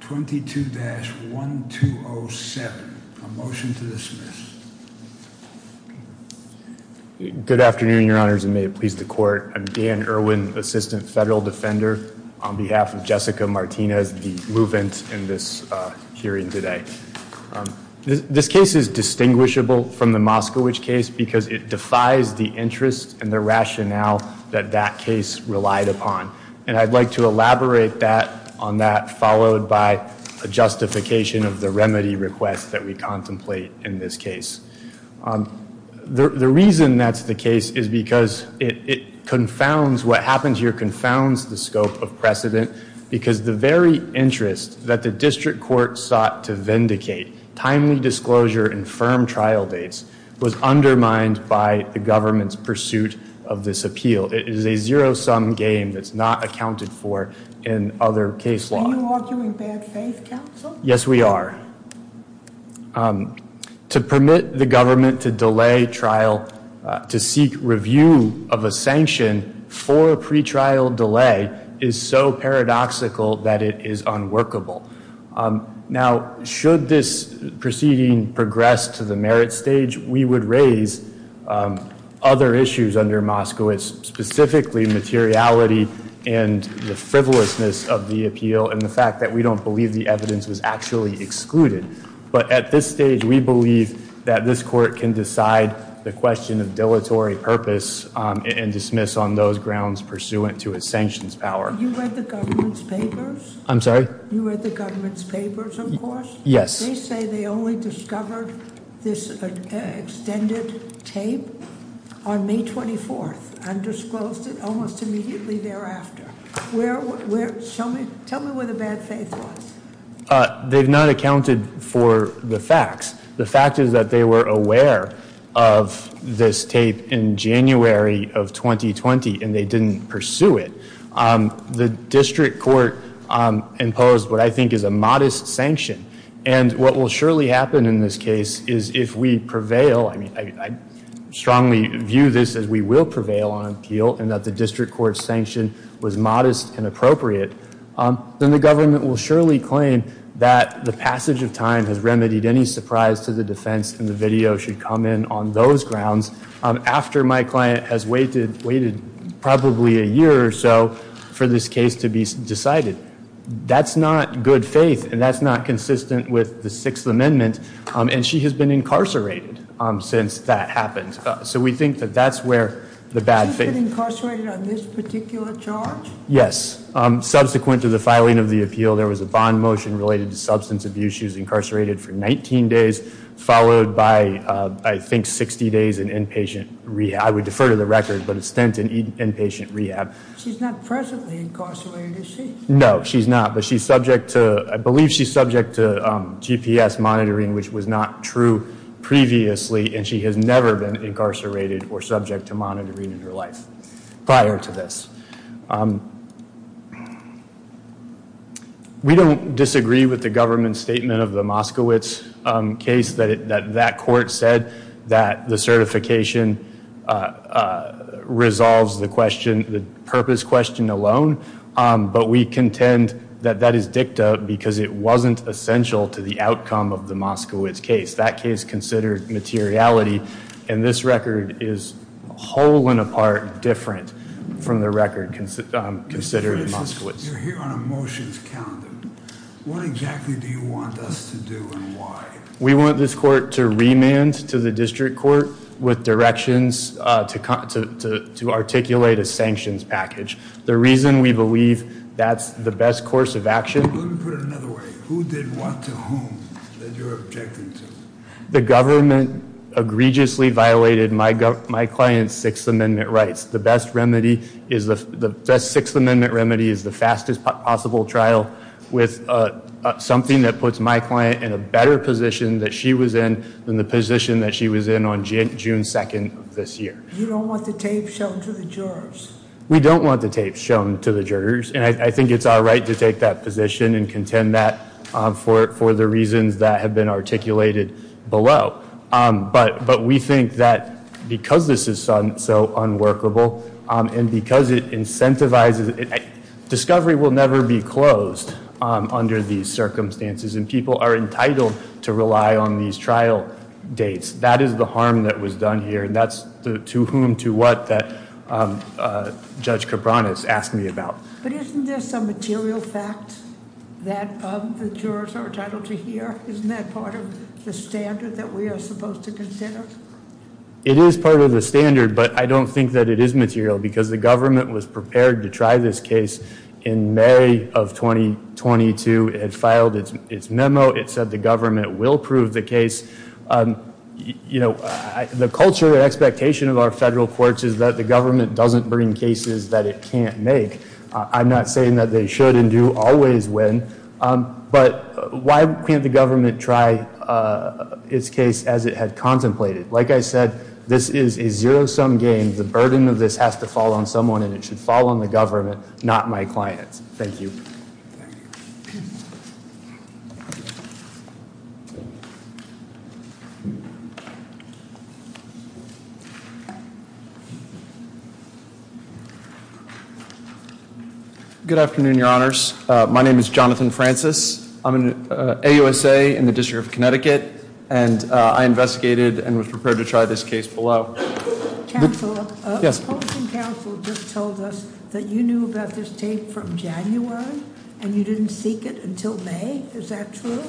22-1207. A motion to dismiss. Good afternoon, your honors, and may it please the court. I'm Dan Irwin, assistant federal defender on behalf of Jessica Martinez, the movement in this hearing today. This case is distinguishable from the Moskowitz case because it defies the interest and the rationale that that case relied upon. And I'd like to elaborate that on that, followed by a justification of the remedy request that we contemplate in this case. The reason that's the case is because it confounds what happens here, confounds the scope of precedent, because the very interest that the district court sought to vindicate, timely disclosure and firm trial dates, was undermined by the government's pursuit of this appeal. It is a zero-sum game that's not accounted for in other case law. Are you arguing bad faith, counsel? Yes, we are. To permit the government to delay trial, to seek review of a sanction for a pretrial delay is so paradoxical that it is unworkable. Now, should this proceeding progress to the merit stage, we would raise other issues under Moskowitz, specifically materiality and the frivolousness of the appeal and the fact that we don't believe the evidence was actually excluded. But at this stage, we believe that this court can decide the question of dilatory purpose and dismiss on those grounds pursuant to its sanctions power. You read the government's papers? I'm sorry? You read the government's papers, of course? Yes. They say they only discovered this extended tape on May 24th and disclosed it almost immediately thereafter. Tell me where the bad faith was. They've not accounted for the facts. The fact is that they were aware of this tape in January of 2020 and they didn't pursue it. The district court imposed what I think is a modest sanction and what will surely happen in this case is if we prevail, I mean, I strongly view this as we will prevail on appeal and that the district court's sanction was modest and appropriate, then the government will surely claim that the passage of time has remedied any surprise to the defense and the video should come in on those grounds. After my client has waited probably a year or so for this case to be decided. That's not good faith and that's not consistent with the Sixth Amendment and she has been incarcerated since that happened. So we think that that's where the bad faith- She's been incarcerated on this particular charge? Yes. Subsequent to the filing of the appeal, there was a bond motion related to substance abuse. She was incarcerated for 19 days, followed by I think 60 days in inpatient rehab. I would defer to the record, but it stands in inpatient rehab. She's not presently incarcerated, is she? No, she's not, but she's subject to, I believe she's subject to GPS monitoring, which was not true previously and she has never been incarcerated or subject to monitoring in her life prior to this. We don't disagree with the government statement of the Moskowitz case that that court said that the certification resolves the question, the purpose question alone, but we contend that that is dicta because it wasn't essential to the outcome of the Moskowitz case. That case considered materiality and this record is whole and apart different from the record considered in Moskowitz. You're here on a motions calendar. What exactly do you want us to do and why? We want this court to remand to the district court with directions to articulate a sanctions package. The reason we believe that's the best course of action- The government egregiously violated my client's Sixth Amendment rights. The best Sixth Amendment remedy is the fastest possible trial with something that puts my client in a better position that she was in than the position that she was in on June 2nd of this year. You don't want the tape shown to the jurors? We don't want the tape shown to the jurors and I think it's our right to take that position and contend that for the reasons that have been articulated below. But we think that because this is so unworkable and because it incentivizes- Discovery will never be closed under these circumstances and people are entitled to rely on these trial dates. That is the harm that was done here and that's the to whom to what that Judge Cabranes asked me about. But isn't this a material fact that the jurors are entitled to hear? Isn't that part of the standard that we are supposed to consider? It is part of the standard but I don't think that it is material because the government was prepared to try this case in May of 2022. It had filed its memo. It said the government will prove the case. The culture and expectation of our federal courts is that the government doesn't bring cases that it can't make. I'm not saying that they should and do always win, but why can't the government try its case as it had contemplated? Like I said, this is a zero-sum game. The burden of this has to fall on someone and it should fall on the government, not my clients. Thank you. Good afternoon, Your Honors. My name is Jonathan Francis. I'm an AUSA in the District of Connecticut and I investigated and was prepared to try this case below. Counselor, the opposing counsel just told us that you knew about this tape from January and you didn't seek it until May. Is that true?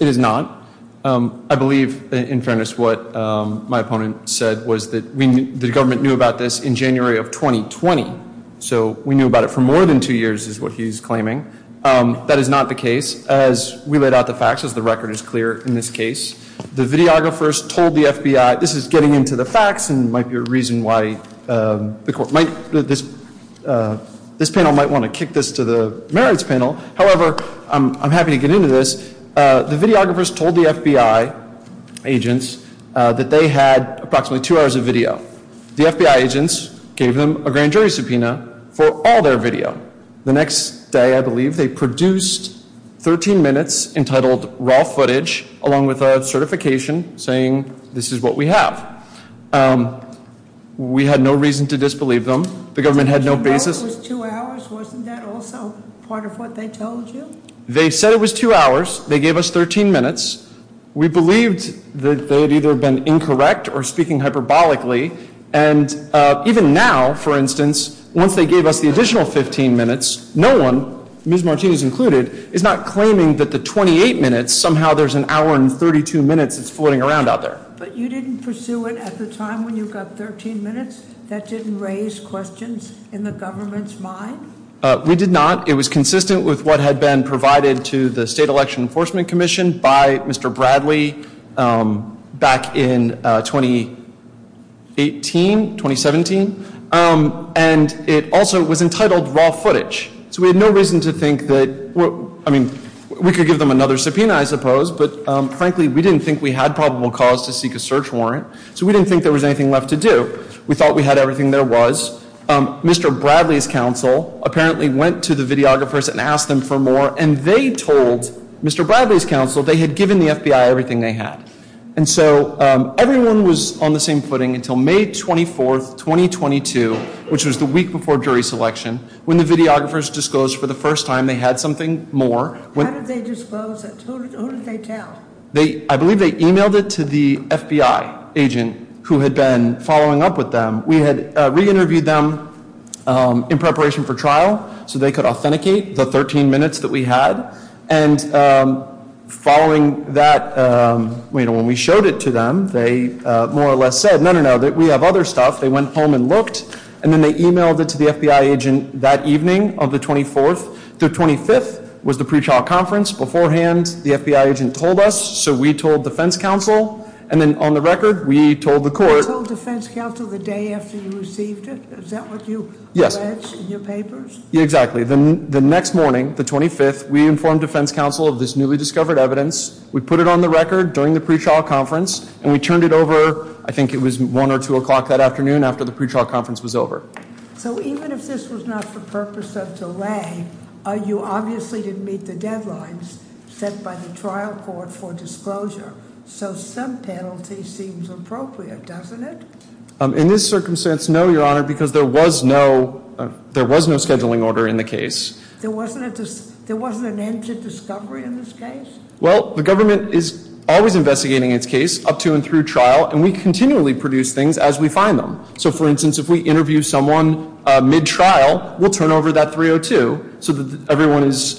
It is not. I believe, in fairness, what my opponent said was that the government knew about this in January of 2020. So we knew about it for more than two years is what he's claiming. That is not the case. As we laid out the facts, as the record is clear in this case, the videographers told the FBI, this is getting into the facts and might be a reason why this panel might want to kick this to the merits panel. However, I'm happy to get into this. The videographers told the FBI agents that they had approximately two hours of video. The FBI agents gave them a grand jury subpoena for all their video. The next day, I believe, they produced 13 minutes entitled raw footage along with a certification saying this is what we have. We had no reason to disbelieve them. The government had no basis. Wasn't that also part of what they told you? They said it was two hours. They gave us 13 minutes. We believed that they had either been incorrect or speaking hyperbolically. And even now, for instance, once they gave us the additional 15 minutes, no one, Ms. Martinez included, is not claiming that the 28 minutes, somehow there's an hour and 32 minutes that's floating around out there. But you didn't pursue it at the time when you got 13 minutes? That didn't raise questions in the government's mind? We did not. It was consistent with what had been provided to the State Election Enforcement Commission by Mr. Bradley back in 2018, 2017. And it also was entitled raw footage. So we had no reason to think that, I mean, we could give them another subpoena, I suppose. But frankly, we didn't think we had probable cause to seek a search warrant. So we didn't think there was anything left to do. We thought we had everything there was. Mr. Bradley's counsel apparently went to the videographers and asked them for more. And they told Mr. Bradley's counsel they had given the FBI everything they had. And so everyone was on the same footing until May 24th, 2022, which was the week before jury selection, when the videographers disclosed for the first time they had something more. How did they disclose it? Who did they tell? I believe they emailed it to the FBI agent who had been following up with them. We had re-interviewed them in preparation for trial so they could authenticate the 13 minutes that we had. And following that, when we showed it to them, they more or less said, no, no, no, that we have other stuff. They went home and looked. And then they emailed it to the FBI agent that evening of the 24th. The 25th was the pretrial conference. Beforehand, the FBI agent told us, so we told defense counsel. And then on the record, we told the court. You told defense counsel the day after you received it? Is that what you alleged in your papers? Yes, exactly. The next morning, the 25th, we informed defense counsel of this newly discovered evidence. We put it on the record during the pretrial conference. And we turned it over, I think it was 1 or 2 o'clock that afternoon, after the pretrial conference was over. So even if this was not for purpose of delay, you obviously didn't meet the deadlines set by the trial court for disclosure. So some penalty seems appropriate, doesn't it? In this circumstance, no, Your Honor, because there was no scheduling order in the case. There wasn't an end to discovery in this case? Well, the government is always investigating its case up to and through trial. And we continually produce things as we find them. So, for instance, if we interview someone mid-trial, we'll turn over that 302 so that everyone is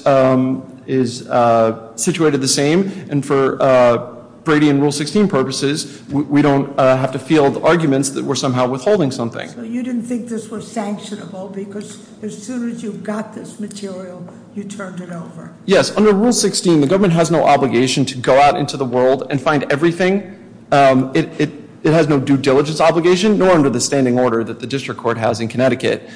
situated the same. And for Brady and Rule 16 purposes, we don't have to field arguments that we're somehow withholding something. So you didn't think this was sanctionable because as soon as you got this material, you turned it over? Yes, under Rule 16, the government has no obligation to go out into the world and find everything. It has no due diligence obligation, nor under the standing order that the district court has in Connecticut.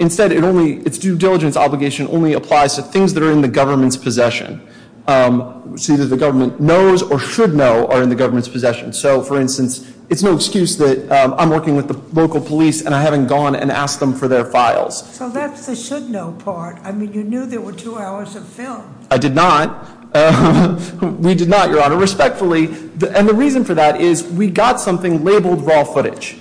Instead, its due diligence obligation only applies to things that are in the government's possession. So either the government knows or should know are in the government's possession. So, for instance, it's no excuse that I'm working with the local police and I haven't gone and asked them for their files. So that's the should know part. I mean, you knew there were two hours of film. I did not. We did not, Your Honor, respectfully. And the reason for that is we got something labeled raw footage.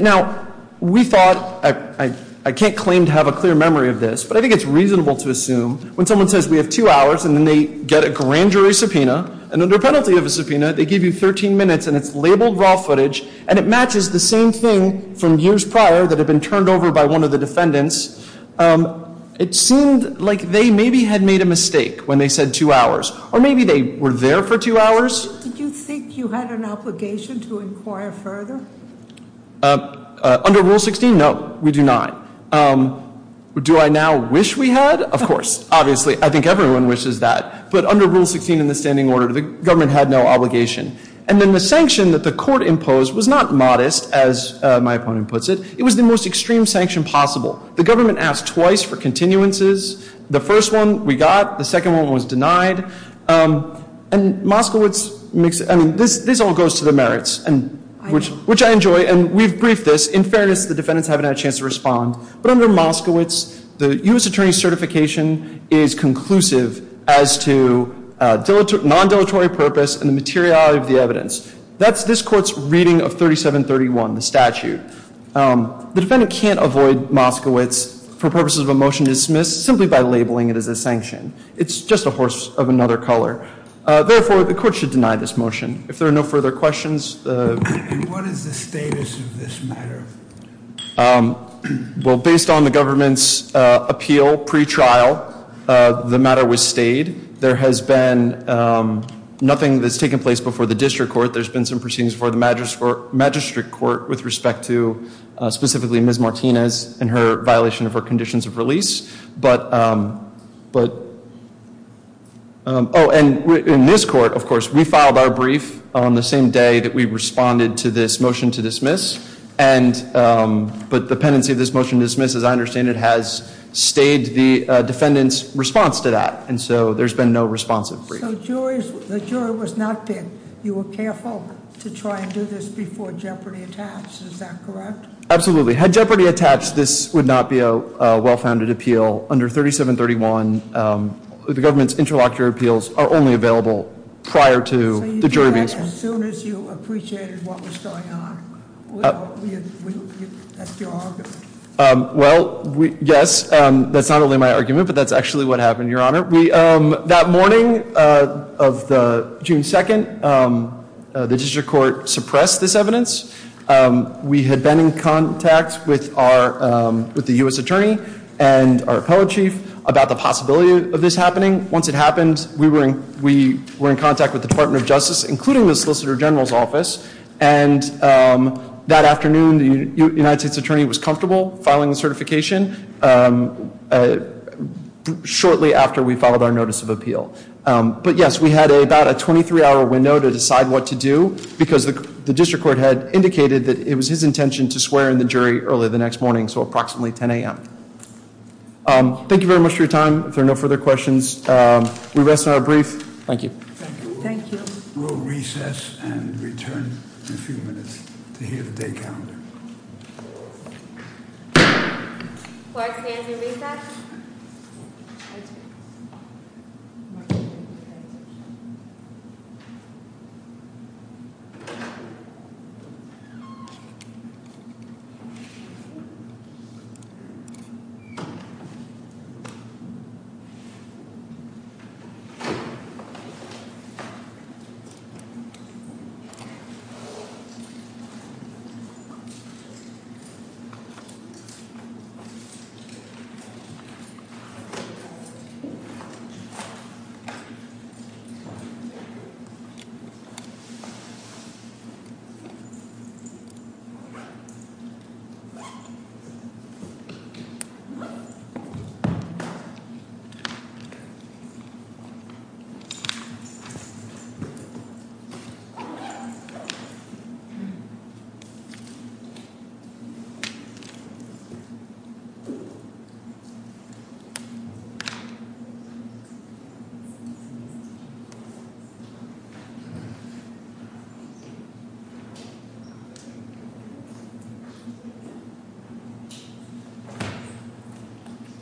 Now, we thought, I can't claim to have a clear memory of this. But I think it's reasonable to assume when someone says we have two hours and then they get a grand jury subpoena. And under penalty of a subpoena, they give you 13 minutes and it's labeled raw footage. And it matches the same thing from years prior that had been turned over by one of the defendants. It seemed like they maybe had made a mistake when they said two hours. Or maybe they were there for two hours. Did you think you had an obligation to inquire further? Under Rule 16, no, we do not. Do I now wish we had? Of course, obviously. I think everyone wishes that. But under Rule 16 in the standing order, the government had no obligation. And then the sanction that the court imposed was not modest, as my opponent puts it. It was the most extreme sanction possible. The government asked twice for continuances. The first one we got. The second one was denied. And Moskowitz makes it, I mean, this all goes to the merits, which I enjoy. And we've briefed this. In fairness, the defendants haven't had a chance to respond. But under Moskowitz, the U.S. attorney's certification is conclusive as to non-deletery purpose and the materiality of the evidence. That's this court's reading of 3731, the statute. The defendant can't avoid Moskowitz for purposes of a motion to dismiss simply by labeling it as a sanction. It's just a horse of another color. Therefore, the court should deny this motion. If there are no further questions. What is the status of this matter? Well, based on the government's appeal pretrial, the matter was stayed. There has been nothing that's taken place before the district court. There's been some proceedings before the magistrate court with respect to specifically Ms. Martinez and her violation of her conditions of release. But, oh, and in this court, of course, we filed our brief on the same day that we responded to this motion to dismiss. But the pendency of this motion to dismiss, as I understand it, has stayed the defendant's response to that. And so there's been no responsive brief. So the jury was not bid. You were careful to try and do this before jeopardy attached. Is that correct? Absolutely. Had jeopardy attached, this would not be a well-founded appeal. Under 3731, the government's interlocutor appeals are only available prior to the jury being- So you did that as soon as you appreciated what was going on? That's your argument? Well, yes. That's not only my argument, but that's actually what happened, Your Honor. That morning of June 2nd, the district court suppressed this evidence. We had been in contact with the U.S. attorney and our appellate chief about the possibility of this happening. Once it happened, we were in contact with the Department of Justice, including the Solicitor General's office. And that afternoon, the United States attorney was comfortable filing the certification shortly after we followed our notice of appeal. But yes, we had about a 23-hour window to decide what to do, because the district court had indicated that it was his intention to swear in the jury early the next morning, so approximately 10 a.m. Thank you very much for your time. If there are no further questions, we rest on our brief. Thank you. Thank you. We'll recess and return in a few minutes to hear the day calendar. Do I stand to recess? Okay. Thank you.